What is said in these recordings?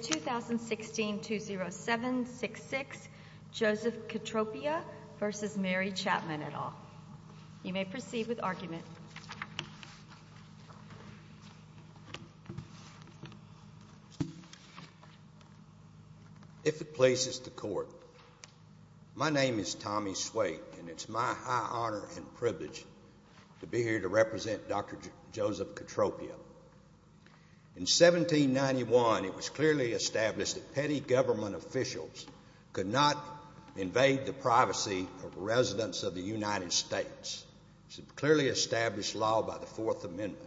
2016 20766 Joseph Cotropia v. Mary Chapman et al. You may proceed with argument. If it pleases the court, my name is Tommy Swaik and it's my high honor and privilege to be here to represent Dr. Joseph Cotropia. In 1791, it was clearly established that petty government officials could not invade the privacy of residents of the United States. It was a clearly established law by the Fourth Amendment.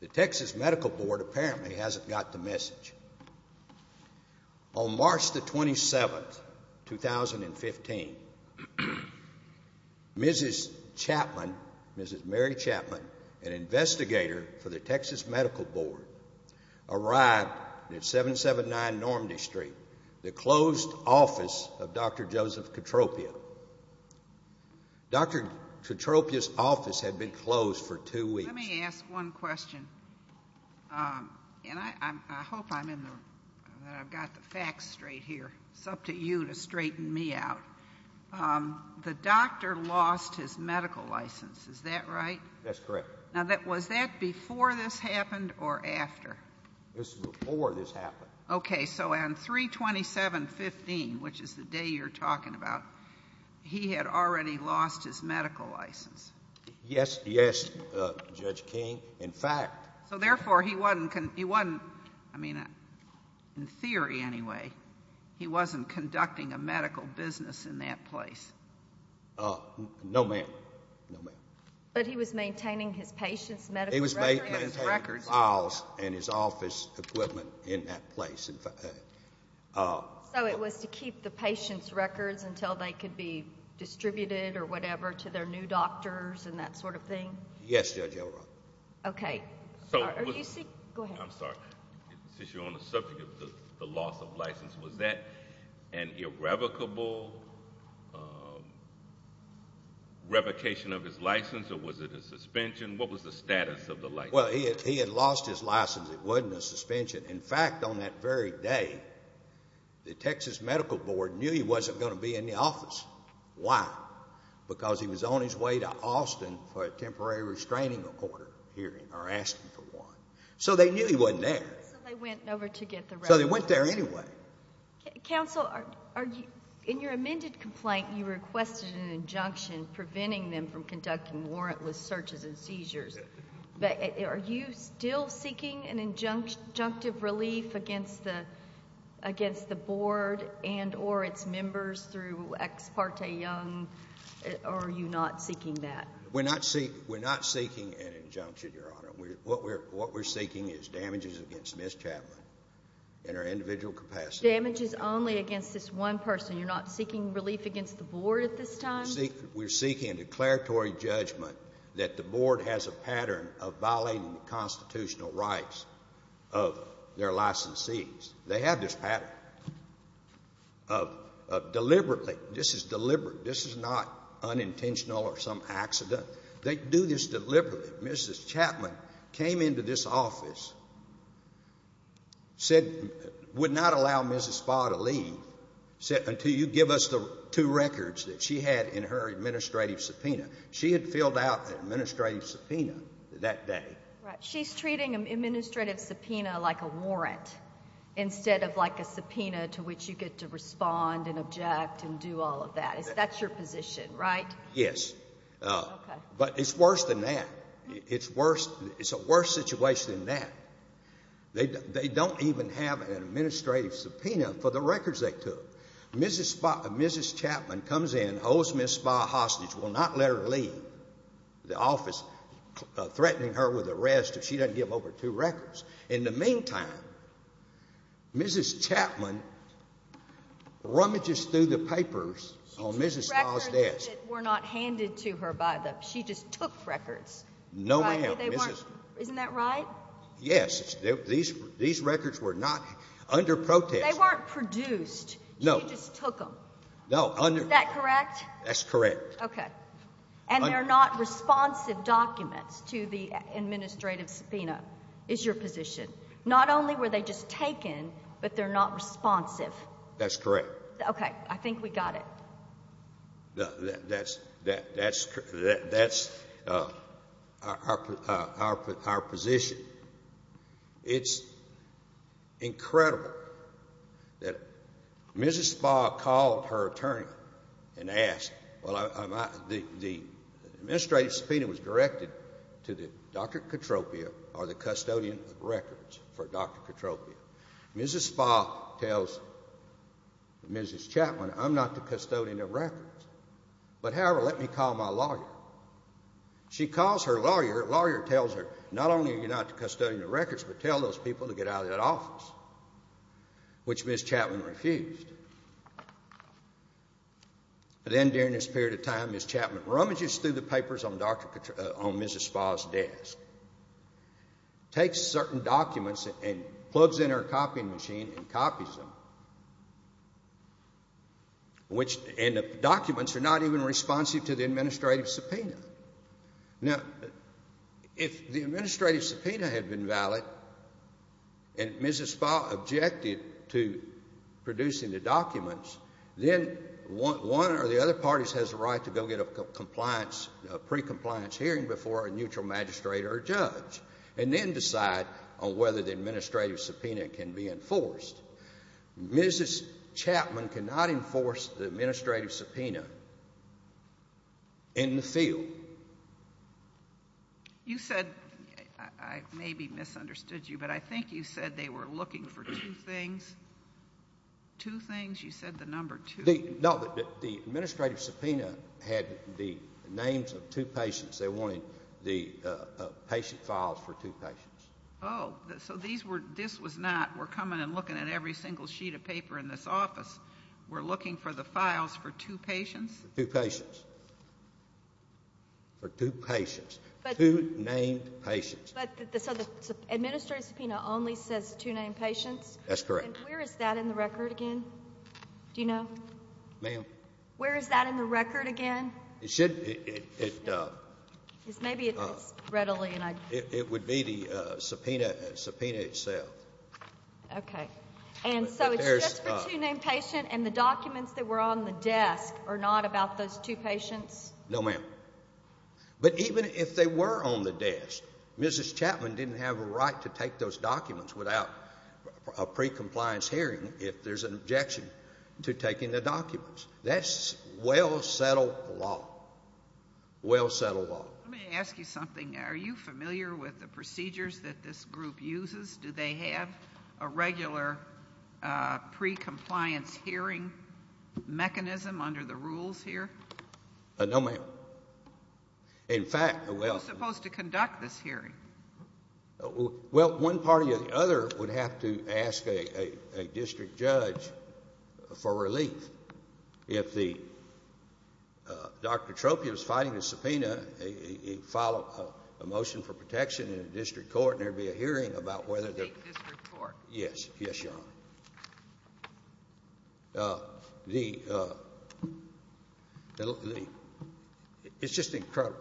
The Texas Medical Board apparently hasn't got the message. On March 27, 2015, Mrs. Chapman, the first Mrs. Mary Chapman, an investigator for the Texas Medical Board, arrived at 779 Normandy Street, the closed office of Dr. Joseph Cotropia. Dr. Cotropia's office had been closed for two weeks. Let me ask one question. I hope I've got the facts straight here. It's up to you to straighten me out. The doctor lost his medical license. Is that right? That's correct. Was that before this happened or after? It was before this happened. Okay. On 3-27-15, which is the day you're talking about, he had already lost his medical license. Yes, yes, Judge King. In fact... Therefore, he wasn't... In theory, anyway, he wasn't conducting a medical business in that place. No, ma'am. No, ma'am. He was maintaining his patient's medical records? He was maintaining files and his office equipment in that place. So it was to keep the patient's records until they could be distributed or whatever to their new doctors and that sort of thing? Yes, Judge O'Rourke. Okay. Are you... Go ahead. I'm sorry. Since you're on the subject of the loss of license, was that an irrevocable revocation of his license or was it a suspension? What was the status of the license? Well, he had lost his license. It wasn't a suspension. In fact, on that very day, the Texas Medical Board knew he wasn't going to be in the office. Why? Because he was on his way to Austin for a temporary restraining order hearing or asking for one. So they knew he wasn't there. So they went over to get the... So they went there anyway. Counsel, in your amended complaint, you requested an injunction preventing them from conducting warrantless searches and seizures. Are you still seeking an injunctive relief against the board and or its members through Ex Parte Young or are you not seeking that? We're not seeking an injunction, Your Honor. What we're seeking is damages against Ms. Chapman in her individual capacity. Damages only against this one person. You're not seeking relief against the board at this time? We're seeking a declaratory judgment that the board has a pattern of violating the constitutional rights of their licensees. They have this pattern of deliberately. This is deliberate. This is not unintentional or some accident. They do this deliberately. Mrs. Chapman came into this office, said, would not allow Mrs. Spa to leave until you give us the two records that she had in her administrative subpoena. She had filled out an administrative subpoena that day. Right. She's treating an administrative subpoena like a warrant instead of like a subpoena to which you get to respond and object and do all of that. That's your position, right? Yes. But it's worse than that. It's worse. It's a worse situation than that. They don't even have an administrative subpoena for the records they took. Mrs. Chapman comes in, holds Ms. Spa hostage, will not let her leave the office, threatening her with arrest if she doesn't give over two records. In the meantime, Mrs. Chapman rummages through the papers on Mrs. Spa's desk. She took records that were not handed to her by the – she just took records. No, ma'am. Right? They weren't – isn't that right? Yes. These records were not under protest. They weren't produced. No. She just took them. No. Under – Is that correct? That's correct. Okay. And they're not responsive documents to the administrative subpoena, is your position. Not only were they just taken, but they're not responsive. That's correct. Okay. I think we got it. That's – that's our position. It's incredible that Mrs. Spa called her attorney and asked – the administrative subpoena was directed to Dr. Katropia or the custodian of records for Dr. Katropia. Mrs. Spa tells Mrs. Chapman, I'm not the custodian of records, but however, let me call my lawyer. She calls her lawyer. Lawyer tells her, not only are you not the custodian of records, but tell those people to get out of that office, which Ms. Chapman refused. Then during this period of time, Ms. Chapman rummages through the papers on Mrs. Spa's desk, takes certain documents and plugs in her copying machine and copies them, and the documents are not even responsive to the administrative subpoena. Now, if the administrative subpoena had been valid and Mrs. Spa objected to producing the documents, then one or the other parties has the right to go get a compliance – a precompliance hearing before a neutral magistrate or judge and then decide on whether the administrative subpoena can be enforced. Mrs. Chapman cannot enforce the administrative subpoena in the field. You said – I maybe misunderstood you, but I think you said they were looking for two things. Two things? You said the number two. No, the administrative subpoena had the names of two patients. They wanted the patient files for two patients. Oh, so these were – this was not we're coming and looking at every single sheet of paper in this office. We're looking for the files for two patients? Two patients. For two patients. Two named patients. But – so the administrative subpoena only says two named patients? That's correct. And where is that in the record again? Do you know? Ma'am? Where is that in the record again? It should – it – Maybe it's readily, and I – It would be the subpoena itself. Okay. And so it's just for two named patients, and the documents that were on the desk are not about those two patients? No, ma'am. But even if they were on the desk, Mrs. Chapman didn't have a right to take those documents without a pre-compliance hearing if there's an objection to taking the documents. That's well-settled law. Well-settled law. Let me ask you something. Are you familiar with the procedures that this group uses? Do they have a regular pre-compliance hearing mechanism under the rules here? No, ma'am. In fact, well – Who's supposed to conduct this hearing? Well, one party or the other would have to ask a district judge for relief. If the – Dr. Tropia was fighting the subpoena, he filed a motion for protection in a district court, and there would be a hearing about whether the – To take this report? Yes. Yes, Your Honor. The – it's just incredible.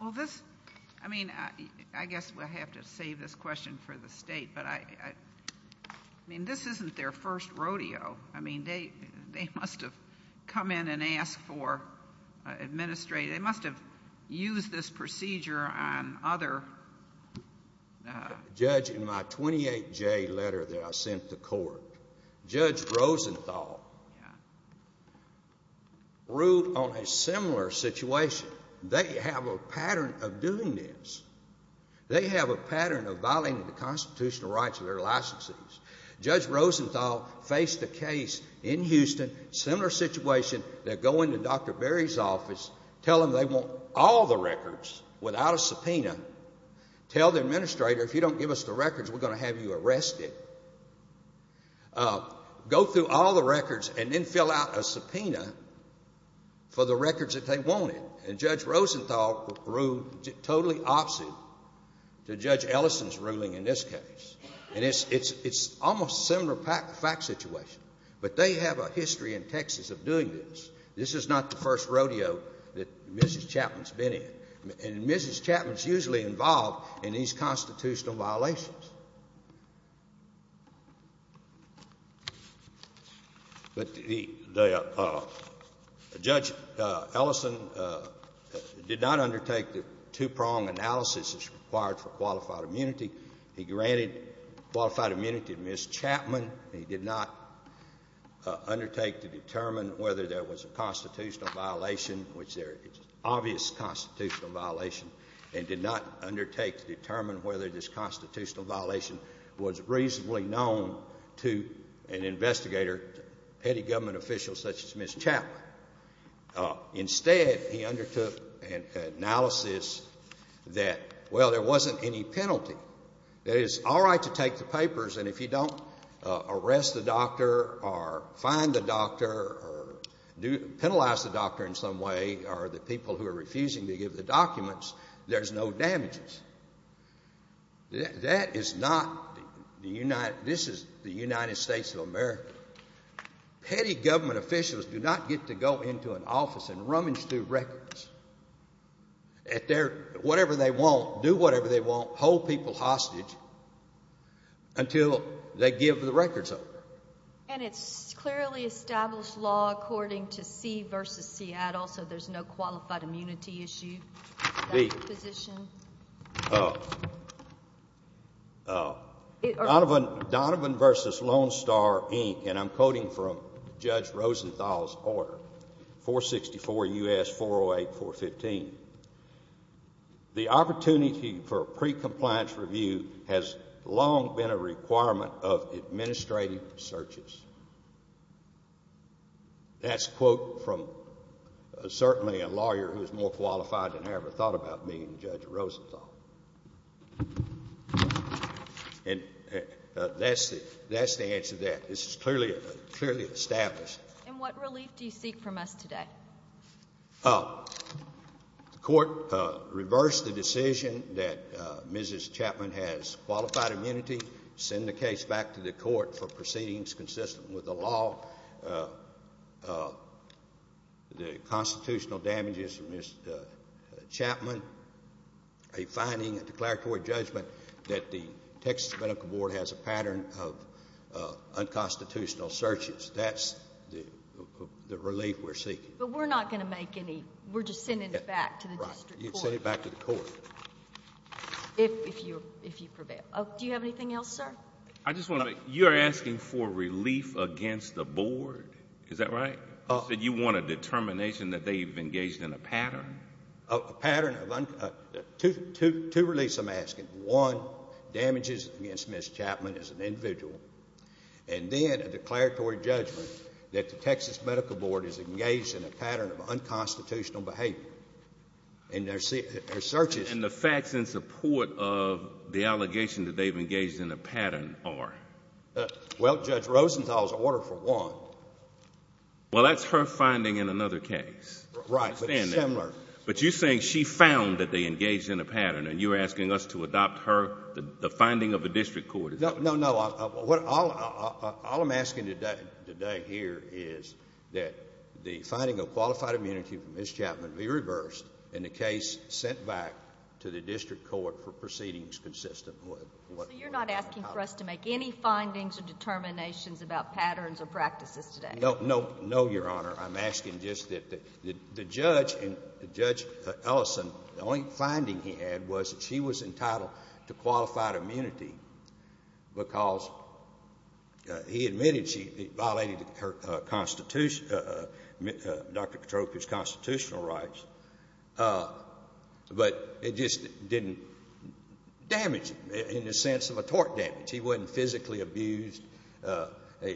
Well, this – I mean, I guess we'll have to save this question for the state, but I – I mean, this isn't their first rodeo. I mean, they must have come in and asked for – they must have used this procedure on other – Judge, in my 28-J letter that I sent to court, Judge Rosenthal ruled on a similar situation. They have a pattern of doing this. They have a pattern of violating the constitutional rights of their licenses. Judge Rosenthal faced a case in Houston, similar situation, that go into Dr. Berry's office, tell them they want all the records without a subpoena, tell the administrator, if you don't give us the records, we're going to have you arrested. Go through all the records and then fill out a subpoena for the records that they wanted. And Judge Rosenthal ruled totally opposite to Judge Ellison's ruling in this case. And it's almost a similar fact situation, but they have a history in Texas of doing this. This is not the first rodeo that Mrs. Chapman's been in. And Mrs. Chapman's usually involved in these constitutional violations. But the – Judge Ellison did not undertake the two-prong analysis required for qualified immunity. He granted qualified immunity to Mrs. Chapman. He did not undertake to determine whether there was a constitutional violation, which there is obvious constitutional violation, and did not undertake to determine whether this constitutional violation was reasonably known to an investigator, any government official such as Mrs. Chapman. Instead, he undertook an analysis that, well, there wasn't any penalty. It is all right to take the papers, and if you don't arrest the doctor or fine the doctor or penalize the doctor in some way or the people who are refusing to give the documents, there's no damages. That is not the United – this is the United States of America. Petty government officials do not get to go into an office and rummage through records at their – whatever they want, do whatever they want, hold people hostage until they give the records over. And it's clearly established law according to C v. Seattle, so there's no qualified immunity issue. Second position. Donovan v. Lone Star, Inc., and I'm quoting from Judge Rosenthal's order, 464 U.S. 408.415. The opportunity for a pre-compliance review has long been a requirement of administrative searches. That's a quote from certainly a lawyer who's more qualified than I ever thought about being Judge Rosenthal. And that's the answer to that. This is clearly established. And what relief do you seek from us today? The court reversed the decision that Mrs. Chapman has qualified immunity, send the case back to the court for proceedings consistent with the law, the constitutional damages from Mrs. Chapman, a finding, a declaratory judgment that the Texas Medical Board has a pattern of unconstitutional searches. That's the relief we're seeking. But we're not going to make any – we're just sending it back to the district court. Right. You'd send it back to the court. If you prevail. Do you have anything else, sir? I just want to make – you're asking for relief against the board. Is that right? You said you want a determination that they've engaged in a pattern. A pattern of – two reliefs I'm asking. One, damages against Mrs. Chapman as an individual, and then a declaratory judgment that the Texas Medical Board is engaged in a pattern of unconstitutional behavior. And their searches. And the facts in support of the allegation that they've engaged in a pattern are? Well, Judge Rosenthal's order for one. Well, that's her finding in another case. Right, but it's similar. But you're saying she found that they engaged in a pattern, and you're asking us to adopt her – the finding of the district court. No, no, no. All I'm asking today here is that the finding of qualified immunity from Mrs. Chapman be reversed and the case sent back to the district court for proceedings consistent with what – So you're not asking for us to make any findings or determinations about patterns or practices today? No, no, no, Your Honor. I'm asking just that the judge, Judge Ellison, the only finding he had was that she was entitled to qualified immunity because he admitted she violated Dr. Petroffi's constitutional rights, but it just didn't damage him in the sense of a tort damage. He wasn't physically abused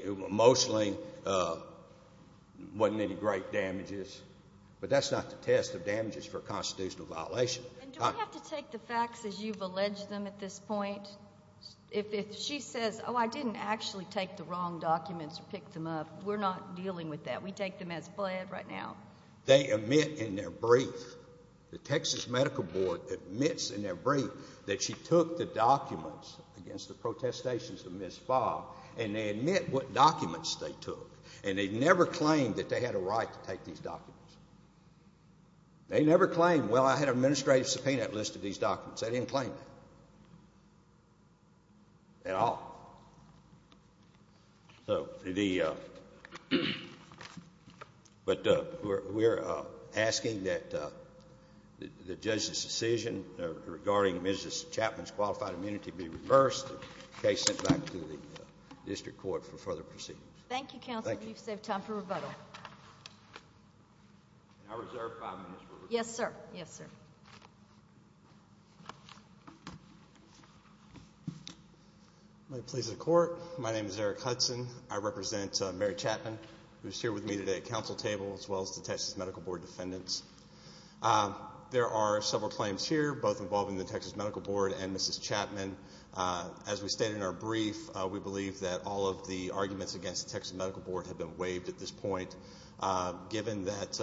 emotionally, wasn't in any great damages. But that's not the test of damages for a constitutional violation. And do we have to take the facts as you've alleged them at this point? If she says, oh, I didn't actually take the wrong documents or pick them up, we're not dealing with that. We take them as fled right now. They admit in their brief – the Texas Medical Board admits in their brief that she took the documents against the protestations of Ms. Fogg, and they admit what documents they took, They never claim, well, I had an administrative subpoena that listed these documents. They didn't claim that at all. So the – but we're asking that the judge's decision regarding Mrs. Chapman's qualified immunity be reversed and the case sent back to the district court for further proceedings. Thank you, counsel. You've saved time for rebuttal. Can I reserve five minutes for rebuttal? Yes, sir. Yes, sir. My police and court, my name is Eric Hudson. I represent Mary Chapman, who's here with me today at council table, as well as the Texas Medical Board defendants. There are several claims here, both involving the Texas Medical Board and Mrs. Chapman. As we stated in our brief, we believe that all of the arguments against the Texas Medical Board have been waived at this point. Given that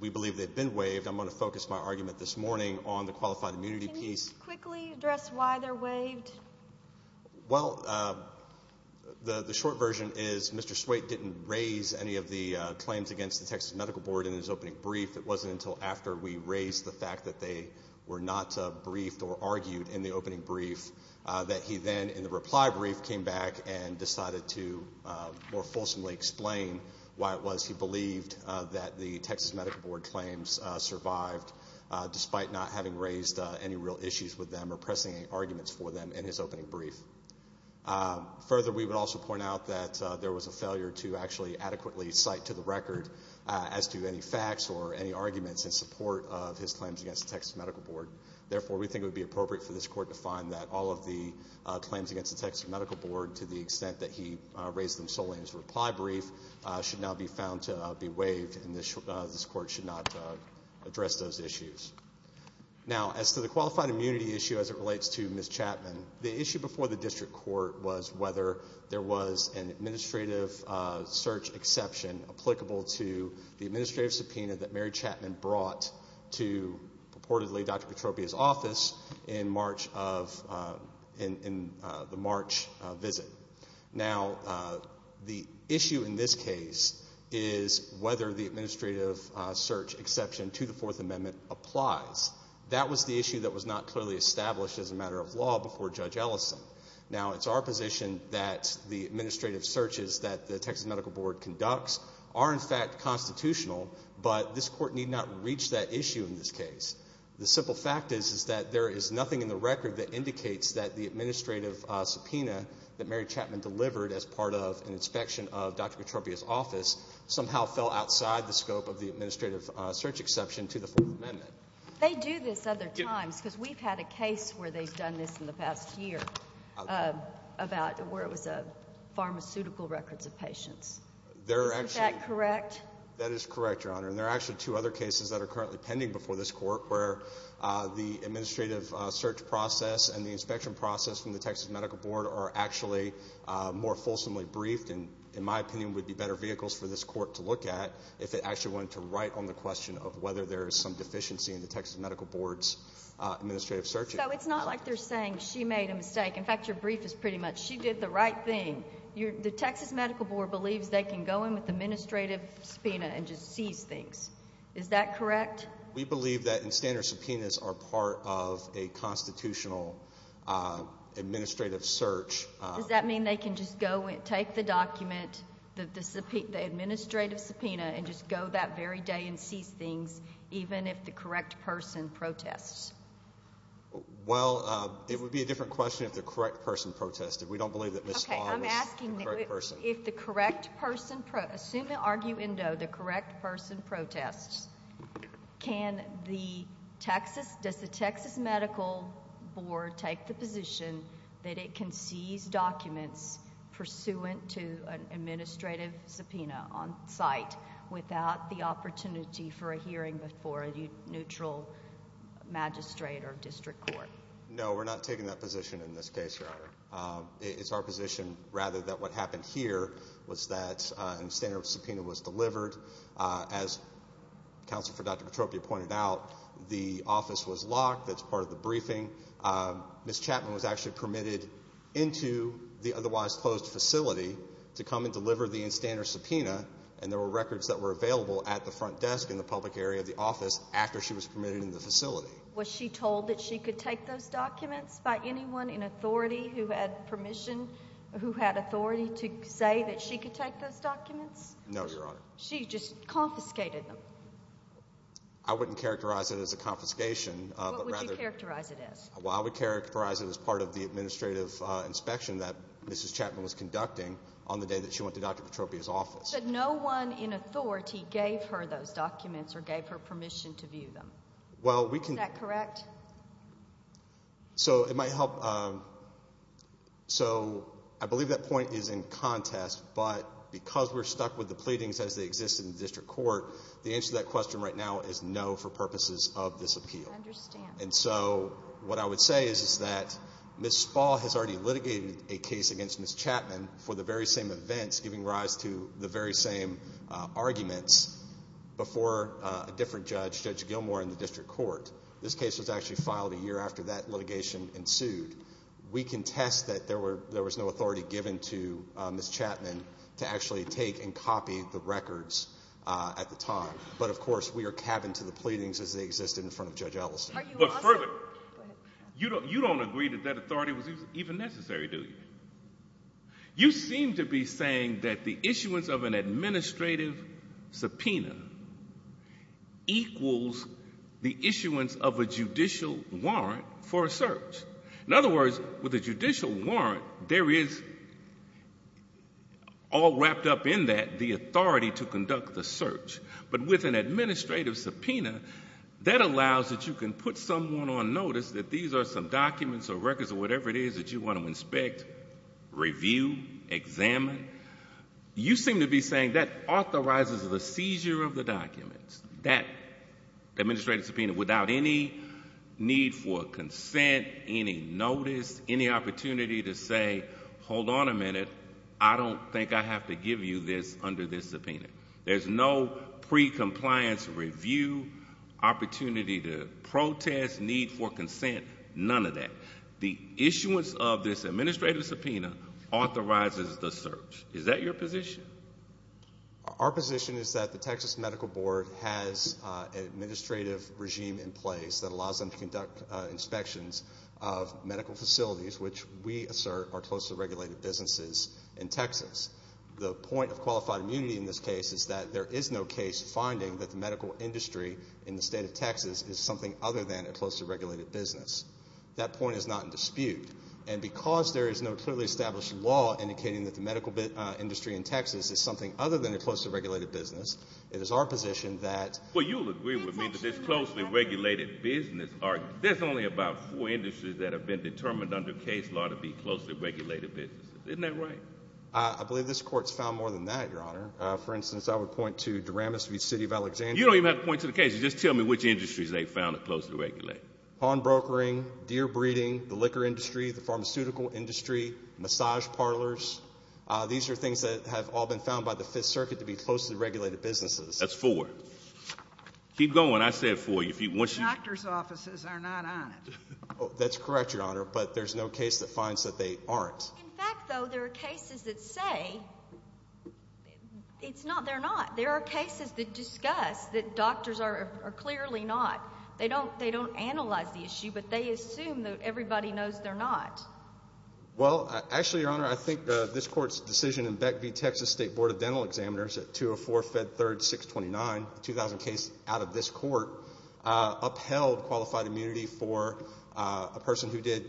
we believe they've been waived, I'm going to focus my argument this morning on the qualified immunity piece. Can you quickly address why they're waived? Well, the short version is Mr. Swate didn't raise any of the claims against the Texas Medical Board in his opening brief. It wasn't until after we raised the fact that they were not briefed or argued in the opening brief that he then, in the reply brief, came back and decided to more fulsomely explain why it was he believed that the Texas Medical Board claims survived, despite not having raised any real issues with them or pressing any arguments for them in his opening brief. Further, we would also point out that there was a failure to actually adequately cite to the record as to any facts or any arguments in support of his claims against the Texas Medical Board. Therefore, we think it would be appropriate for this court to find that all of the claims against the Texas Medical Board, to the extent that he raised them solely in his reply brief, should now be found to be waived, and this court should not address those issues. Now, as to the qualified immunity issue as it relates to Mrs. Chapman, the issue before the district court was whether there was an administrative search exception applicable to the administrative subpoena that Mary Chapman brought to purportedly Dr. Petropia's office in the March visit. Now, the issue in this case is whether the administrative search exception to the Fourth Amendment applies. That was the issue that was not clearly established as a matter of law before Judge Ellison. Now, it's our position that the administrative searches that the Texas Medical Board conducts are in fact constitutional, but this court need not reach that issue in this case. The simple fact is that there is nothing in the record that indicates that the administrative subpoena that Mary Chapman delivered as part of an inspection of Dr. Petropia's office somehow fell outside the scope of the administrative search exception to the Fourth Amendment. They do this other times because we've had a case where they've done this in the past year about where it was pharmaceutical records of patients. Isn't that correct? That is correct, Your Honor, and there are actually two other cases that are currently pending before this court where the administrative search process and the inspection process from the Texas Medical Board are actually more fulsomely briefed and, in my opinion, would be better vehicles for this court to look at if it actually wanted to write on the question of whether there is some deficiency in the Texas Medical Board's administrative searches. So it's not like they're saying she made a mistake. In fact, your brief is pretty much she did the right thing. The Texas Medical Board believes they can go in with administrative subpoena and just seize things. Is that correct? We believe that standard subpoenas are part of a constitutional administrative search. Does that mean they can just go and take the document, the administrative subpoena, and just go that very day and seize things even if the correct person protests? Well, it would be a different question if the correct person protested. We don't believe that Ms. Farr was the correct person. Okay, I'm asking if the correct person, assuming arguendo, the correct person protests, does the Texas Medical Board take the position that it can seize documents pursuant to an administrative subpoena on site without the opportunity for a hearing before a neutral magistrate or district court? No, we're not taking that position in this case, Your Honor. It's our position rather that what happened here was that a standard subpoena was delivered as Counsel for Dr. Petropia pointed out. The office was locked. That's part of the briefing. Ms. Chapman was actually permitted into the otherwise closed facility to come and deliver the standard subpoena, and there were records that were available at the front desk in the public area of the office after she was permitted in the facility. Was she told that she could take those documents by anyone in authority who had permission, who had authority to say that she could take those documents? No, Your Honor. She just confiscated them. I wouldn't characterize it as a confiscation. What would you characterize it as? Well, I would characterize it as part of the administrative inspection that Mrs. Chapman was conducting on the day that she went to Dr. Petropia's office. But no one in authority gave her those documents or gave her permission to view them. Well, we can... Is that correct? So it might help. So I believe that point is in contest, but because we're stuck with the pleadings as they exist in the district court, the answer to that question right now is no for purposes of this appeal. I understand. And so what I would say is that Ms. Spall has already litigated a case against Ms. Chapman for the very same events giving rise to the very same arguments before a different judge, Judge Gilmour, in the district court. This case was actually filed a year after that litigation ensued. We contest that there was no authority given to Ms. Chapman to actually take and copy the records at the time. But, of course, we are capping to the pleadings as they existed in front of Judge Ellison. But further, you don't agree that that authority was even necessary, do you? You seem to be saying that the issuance of an administrative subpoena equals the issuance of a judicial warrant for a search. In other words, with a judicial warrant, there is all wrapped up in that the authority to conduct the search. But with an administrative subpoena, that allows that you can put someone on notice that these are some documents or records or whatever it is that you want to inspect, review, examine. You seem to be saying that authorizes the seizure of the documents, that administrative subpoena, without any need for consent, any notice, any opportunity to say, hold on a minute, I don't think I have to give you this under this subpoena. There's no pre-compliance review, opportunity to protest, need for consent, none of that. The issuance of this administrative subpoena authorizes the search. Is that your position? Our position is that the Texas Medical Board has an administrative regime in place that allows them to conduct inspections of medical facilities, which we assert are closely regulated businesses in Texas. The point of qualified immunity in this case is that there is no case finding that the medical industry in the state of Texas is something other than a closely regulated business. That point is not in dispute. And because there is no clearly established law indicating that the medical industry in Texas is something other than a closely regulated business, it is our position that — Well, you'll agree with me that this closely regulated business argument, there's only about four industries that have been determined under case law to be closely regulated businesses. Isn't that right? I believe this Court's found more than that, Your Honor. For instance, I would point to Daramus v. City of Alexandria. You don't even have to point to the cases. Just tell me which industries they found are closely regulated. Pawn brokering, deer breeding, the liquor industry, the pharmaceutical industry, massage parlors. These are things that have all been found by the Fifth Circuit to be closely regulated businesses. That's four. Keep going. I said four. The doctor's offices are not on it. That's correct, Your Honor, but there's no case that finds that they aren't. In fact, though, there are cases that say they're not. There are cases that discuss that doctors are clearly not. They don't analyze the issue, but they assume that everybody knows they're not. Well, actually, Your Honor, I think this Court's decision in Beck v. Texas State Board of Dental Examiners at 204-Fed3-629, the 2000 case out of this court, upheld qualified immunity for a person who did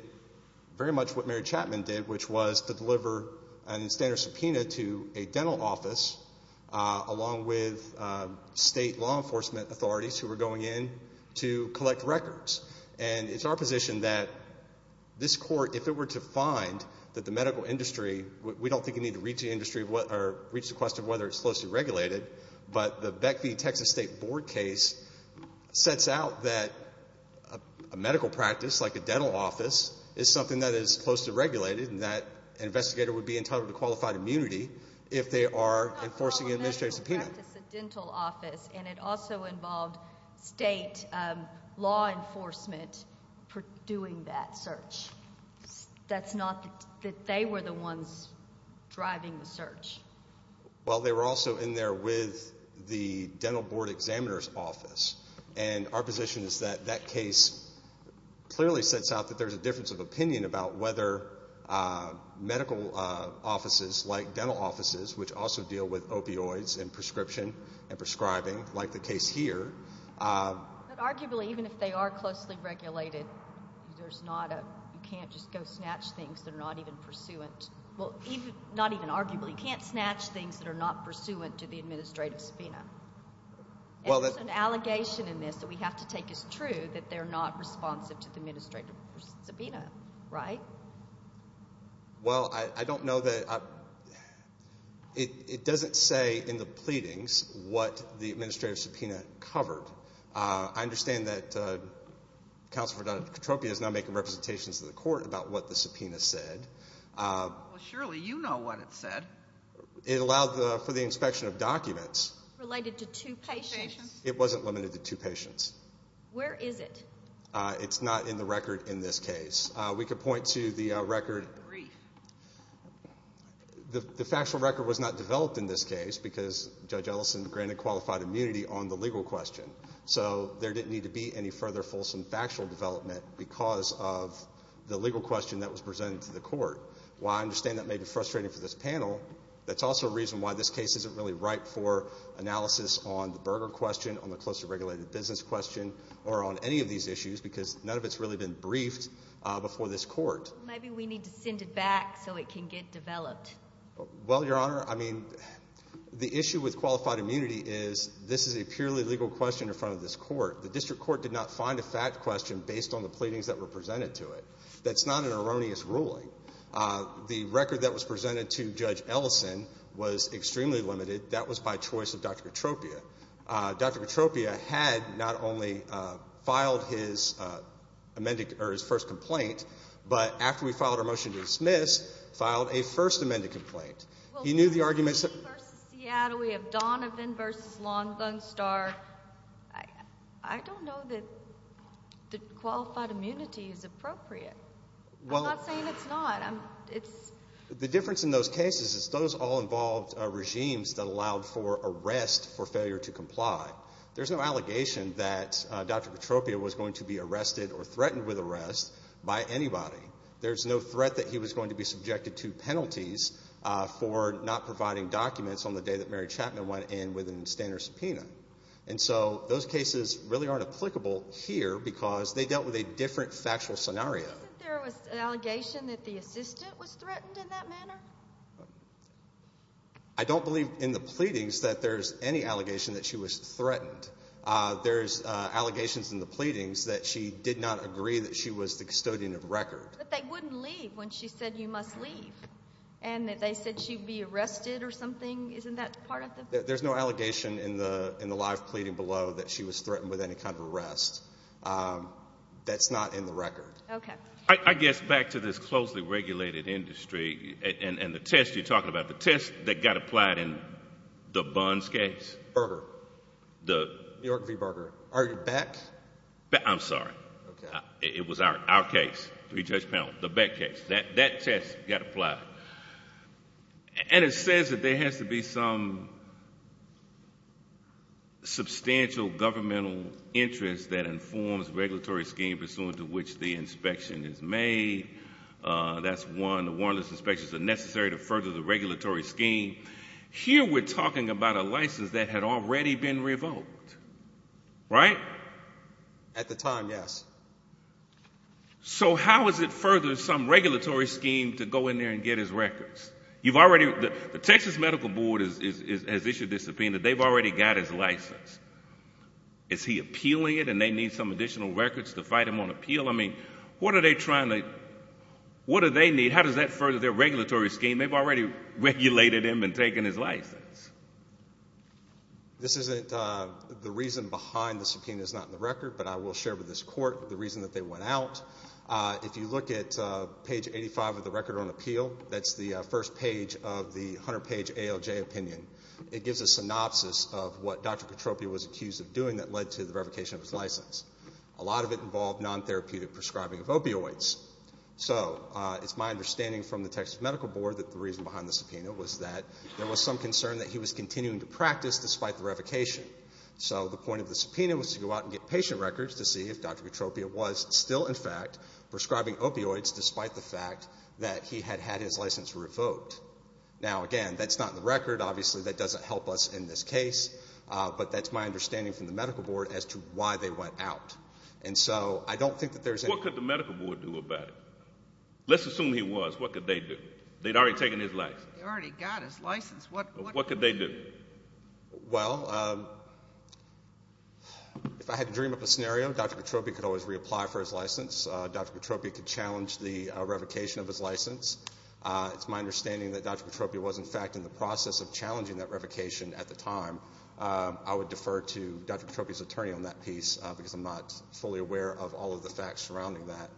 very much what Mary Chapman did, which was to deliver a standard subpoena to a dental office, along with state law enforcement authorities who were going in to collect records. And it's our position that this court, if it were to find that the medical industry, we don't think you need to reach the industry or reach the question of whether it's closely regulated, but the Beck v. Texas State Board case sets out that a medical practice like a dental office is something that is closely regulated and that an investigator would be entitled to qualified immunity if they are enforcing an administrative subpoena. A medical practice, a dental office, and it also involved state law enforcement doing that search. That's not that they were the ones driving the search. Well, they were also in there with the dental board examiner's office, and our position is that that case clearly sets out that there's a difference of opinion about whether medical offices like dental offices, which also deal with opioids and prescription and prescribing like the case here. But arguably, even if they are closely regulated, you can't just go snatch things that are not even pursuant. Well, not even arguably. You can't snatch things that are not pursuant to the administrative subpoena. And it's an allegation in this that we have to take as true that they're not responsive to the administrative subpoena, right? Well, I don't know that it doesn't say in the pleadings what the administrative subpoena covered. I understand that Counselor Verdun of Petropia is now making representations to the court about what the subpoena said. Well, surely you know what it said. It allowed for the inspection of documents. Related to two patients? It wasn't limited to two patients. Where is it? It's not in the record in this case. We could point to the record. I don't agree. The factual record was not developed in this case because Judge Ellison granted qualified immunity on the legal question. So there didn't need to be any further fulsome factual development because of the legal question that was presented to the court. While I understand that may be frustrating for this panel, that's also a reason why this case isn't really ripe for analysis on the Berger question, on the closely regulated business question, or on any of these issues because none of it's really been briefed before this court. Maybe we need to send it back so it can get developed. Well, Your Honor, I mean, the issue with qualified immunity is this is a purely legal question in front of this court. The district court did not find a fact question based on the pleadings that were presented to it. That's not an erroneous ruling. The record that was presented to Judge Ellison was extremely limited. That was by choice of Dr. Petropia. Dr. Petropia had not only filed his first complaint, but after we filed our motion to dismiss, filed a first amended complaint. He knew the arguments that— Well, we have Lee v. Seattle. We have Donovan v. Long Gun Star. I don't know that qualified immunity is appropriate. I'm not saying it's not. The difference in those cases is those all involved regimes that allowed for arrest for failure to comply. There's no allegation that Dr. Petropia was going to be arrested or threatened with arrest by anybody. There's no threat that he was going to be subjected to penalties for not providing documents on the day that Mary Chapman went in with an extender subpoena. And so those cases really aren't applicable here because they dealt with a different factual scenario. Isn't there an allegation that the assistant was threatened in that manner? I don't believe in the pleadings that there's any allegation that she was threatened. There's allegations in the pleadings that she did not agree that she was the custodian of record. But they wouldn't leave when she said you must leave. And they said she'd be arrested or something. Isn't that part of the— There's no allegation in the live pleading below that she was threatened with any kind of arrest. That's not in the record. Okay. I guess back to this closely regulated industry and the test you're talking about, the test that got applied in the Buns case. Berger. The— New York v. Berger. Are you back? I'm sorry. Okay. It was our case, three-judge panel, the Beck case. That test got applied. And it says that there has to be some substantial governmental interest that informs regulatory scheme pursuant to which the inspection is made. That's one. The warrantless inspections are necessary to further the regulatory scheme. Here we're talking about a license that had already been revoked, right? At the time, yes. So how is it further some regulatory scheme to go in there and get his records? You've already—the Texas Medical Board has issued a subpoena. They've already got his license. Is he appealing it and they need some additional records to fight him on appeal? I mean, what are they trying to—what do they need? How does that further their regulatory scheme? They've already regulated him and taken his license. This isn't—the reason behind the subpoena is not in the record, but I will share with this court the reason that they went out. If you look at page 85 of the record on appeal, that's the first page of the 100-page ALJ opinion. It gives a synopsis of what Dr. Katropia was accused of doing that led to the revocation of his license. A lot of it involved non-therapeutic prescribing of opioids. So it's my understanding from the Texas Medical Board that the reason behind the subpoena was that there was some concern that he was continuing to practice despite the revocation. So the point of the subpoena was to go out and get patient records to see if Dr. Katropia was still, in fact, prescribing opioids despite the fact that he had had his license revoked. Now, again, that's not in the record. Obviously, that doesn't help us in this case. But that's my understanding from the Medical Board as to why they went out. And so I don't think that there's any— What could the Medical Board do about it? Let's assume he was. What could they do? They'd already taken his license. They already got his license. What could they do? Well, if I had to dream up a scenario, Dr. Katropia could always reapply for his license. Dr. Katropia could challenge the revocation of his license. It's my understanding that Dr. Katropia was, in fact, in the process of challenging that revocation at the time. I would defer to Dr. Katropia's attorney on that piece because I'm not fully aware of all of the facts surrounding that.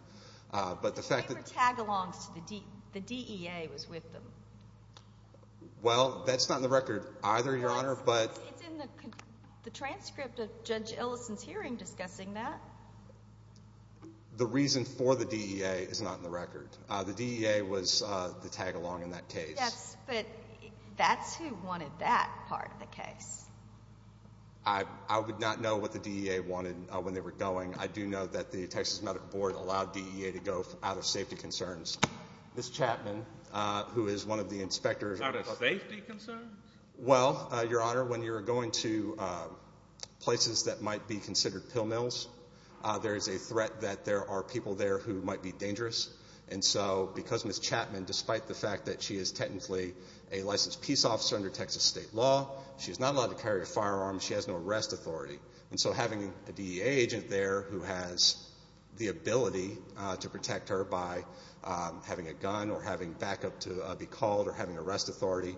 But the fact that— They were tagalongs. The DEA was with them. Well, that's not in the record either, Your Honor, but— It's in the transcript of Judge Ellison's hearing discussing that. The reason for the DEA is not in the record. The DEA was the tagalong in that case. Yes, but that's who wanted that part of the case. I would not know what the DEA wanted when they were going. I do know that the Texas Medical Board allowed DEA to go out of safety concerns. Ms. Chapman, who is one of the inspectors— Out of safety concerns? Well, Your Honor, when you're going to places that might be considered pill mills, there is a threat that there are people there who might be dangerous. And so because Ms. Chapman, despite the fact that she is technically a licensed peace officer under Texas state law, she is not allowed to carry a firearm, she has no arrest authority. And so having a DEA agent there who has the ability to protect her by having a gun or having backup to be called or having arrest authority—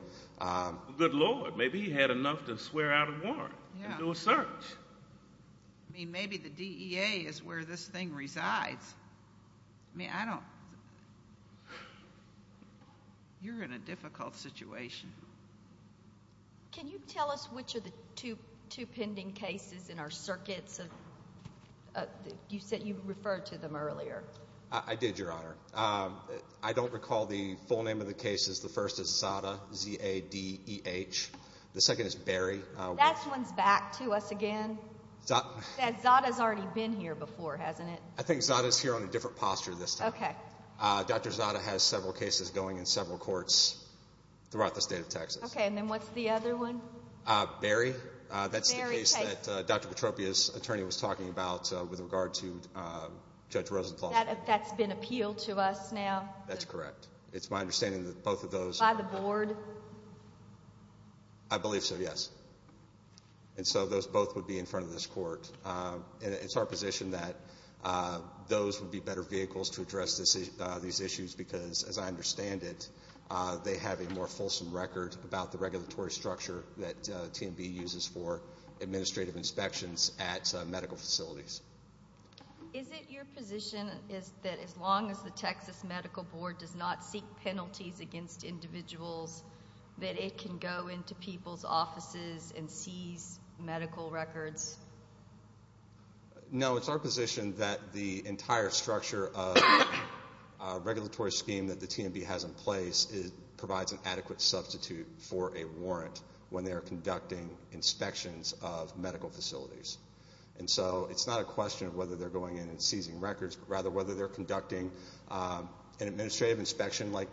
Good Lord, maybe he had enough to swear out a warrant and do a search. I mean, maybe the DEA is where this thing resides. I mean, I don't—you're in a difficult situation. Can you tell us which are the two pending cases in our circuits? You said you referred to them earlier. I did, Your Honor. I don't recall the full name of the cases. The first is Zada, Z-A-D-E-H. The second is Berry. That one's back to us again. Zada's already been here before, hasn't it? I think Zada's here on a different posture this time. Okay. Dr. Zada has several cases going in several courts throughout the state of Texas. Okay, and then what's the other one? Berry. Berry case. That's the case that Dr. Petropia's attorney was talking about with regard to Judge Rosenthal. That's been appealed to us now? That's correct. It's my understanding that both of those— By the board? I believe so, yes. And so those both would be in front of this court. It's our position that those would be better vehicles to address these issues because, as I understand it, they have a more fulsome record about the regulatory structure that TMB uses for administrative inspections at medical facilities. Is it your position that as long as the Texas Medical Board does not seek penalties against individuals, that it can go into people's offices and seize medical records? No, it's our position that the entire structure of a regulatory scheme that the TMB has in place provides an adequate substitute for a warrant when they are conducting inspections of medical facilities. And so it's not a question of whether they're going in and seizing records, but rather whether they're conducting an administrative inspection like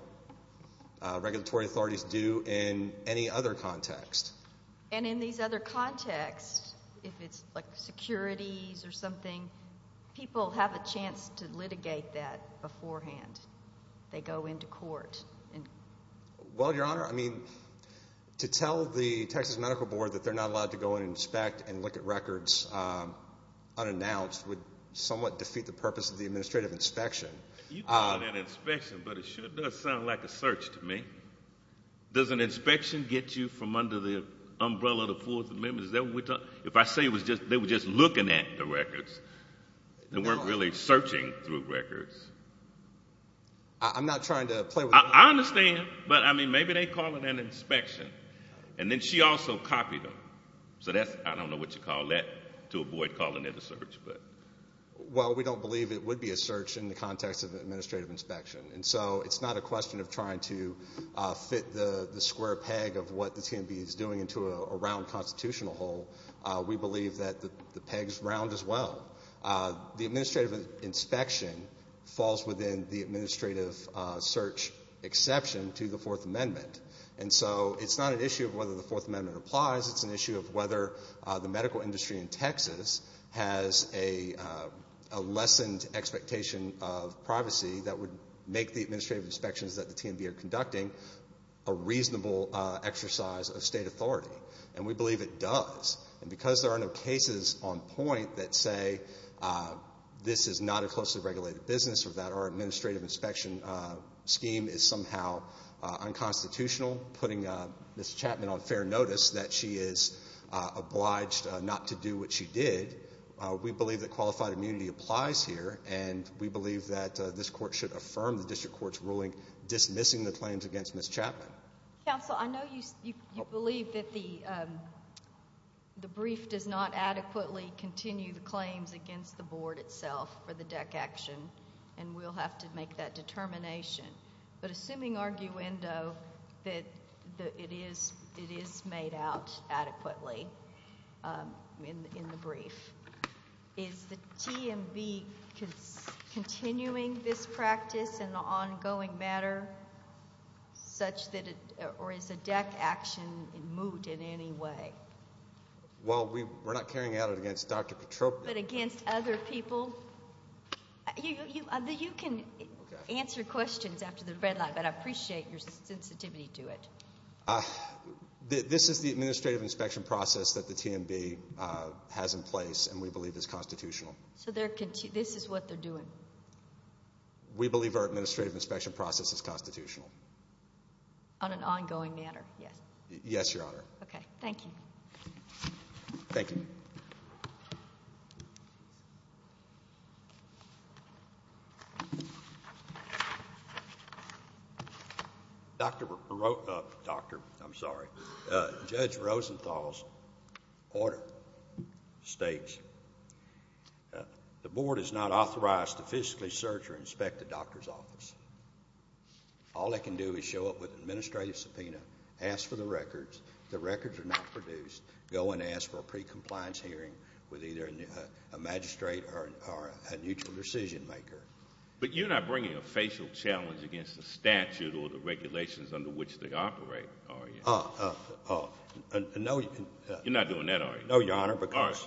regulatory authorities do in any other context. And in these other contexts, if it's like securities or something, people have a chance to litigate that beforehand. They go into court. Well, Your Honor, I mean, to tell the Texas Medical Board that they're not allowed to go and inspect and look at records unannounced would somewhat defeat the purpose of the administrative inspection. You call it an inspection, but it sure does sound like a search to me. Does an inspection get you from under the umbrella of the Fourth Amendment? Is that what we're talking about? If I say they were just looking at the records, they weren't really searching through records. I'm not trying to play with you. I understand, but, I mean, maybe they call it an inspection. And then she also copied them. So that's, I don't know what you call that, to avoid calling it a search. Well, we don't believe it would be a search in the context of an administrative inspection. And so it's not a question of trying to fit the square peg of what the TMB is doing into a round constitutional hole. We believe that the peg's round as well. The administrative inspection falls within the administrative search exception to the Fourth Amendment. And so it's not an issue of whether the Fourth Amendment applies. It's an issue of whether the medical industry in Texas has a lessened expectation of privacy that would make the administrative inspections that the TMB are conducting a reasonable exercise of state authority. And we believe it does. And because there are no cases on point that say this is not a closely regulated business or that our administrative inspection scheme is somehow unconstitutional, putting Ms. Chapman on fair notice that she is obliged not to do what she did, we believe that qualified immunity applies here. And we believe that this court should affirm the district court's ruling dismissing the claims against Ms. Chapman. Counsel, I know you believe that the brief does not adequately continue the claims against the board itself for the deck action, and we'll have to make that determination. But assuming arguendo that it is made out adequately in the brief, is the TMB continuing this practice in the ongoing matter such that it or is the deck action moot in any way? Well, we're not carrying out it against Dr. Petropa. But against other people? You can answer questions after the red line, but I appreciate your sensitivity to it. This is the administrative inspection process that the TMB has in place and we believe is constitutional. So this is what they're doing? We believe our administrative inspection process is constitutional. On an ongoing matter, yes. Yes, Your Honor. Okay. Thank you. Thank you. Thank you. Doctor, I'm sorry. Judge Rosenthal's order states the board is not authorized to physically search or inspect the doctor's office. All they can do is show up with an administrative subpoena, ask for the records, the records are not produced, go and ask for a pre-compliance hearing with either a magistrate or a mutual decision maker. But you're not bringing a facial challenge against the statute or the regulations under which they operate, are you? No. You're not doing that, are you? No, Your Honor, because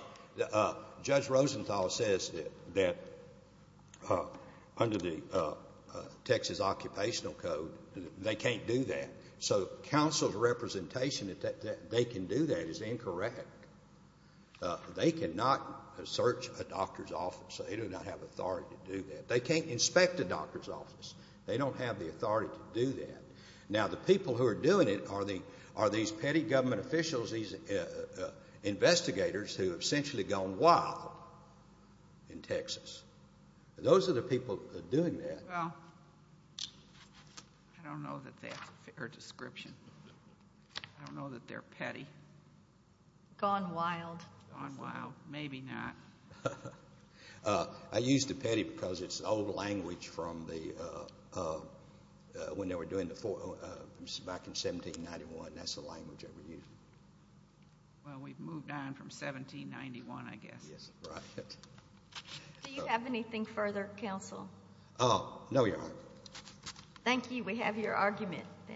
Judge Rosenthal says that under the Texas Occupational Code, they can't do that. So counsel's representation that they can do that is incorrect. They cannot search a doctor's office. They do not have authority to do that. They can't inspect a doctor's office. They don't have the authority to do that. Now, the people who are doing it are these petty government officials, these investigators who have essentially gone wild in Texas. Those are the people doing that. Well, I don't know that that's a fair description. I don't know that they're petty. Gone wild. Gone wild. Maybe not. I use the petty because it's an old language from the, when they were doing the, back in 1791, that's the language they were using. Well, we've moved on from 1791, I guess. Yes, right. Do you have anything further, counsel? No, Your Honor. Thank you. We have your argument then. Thank you.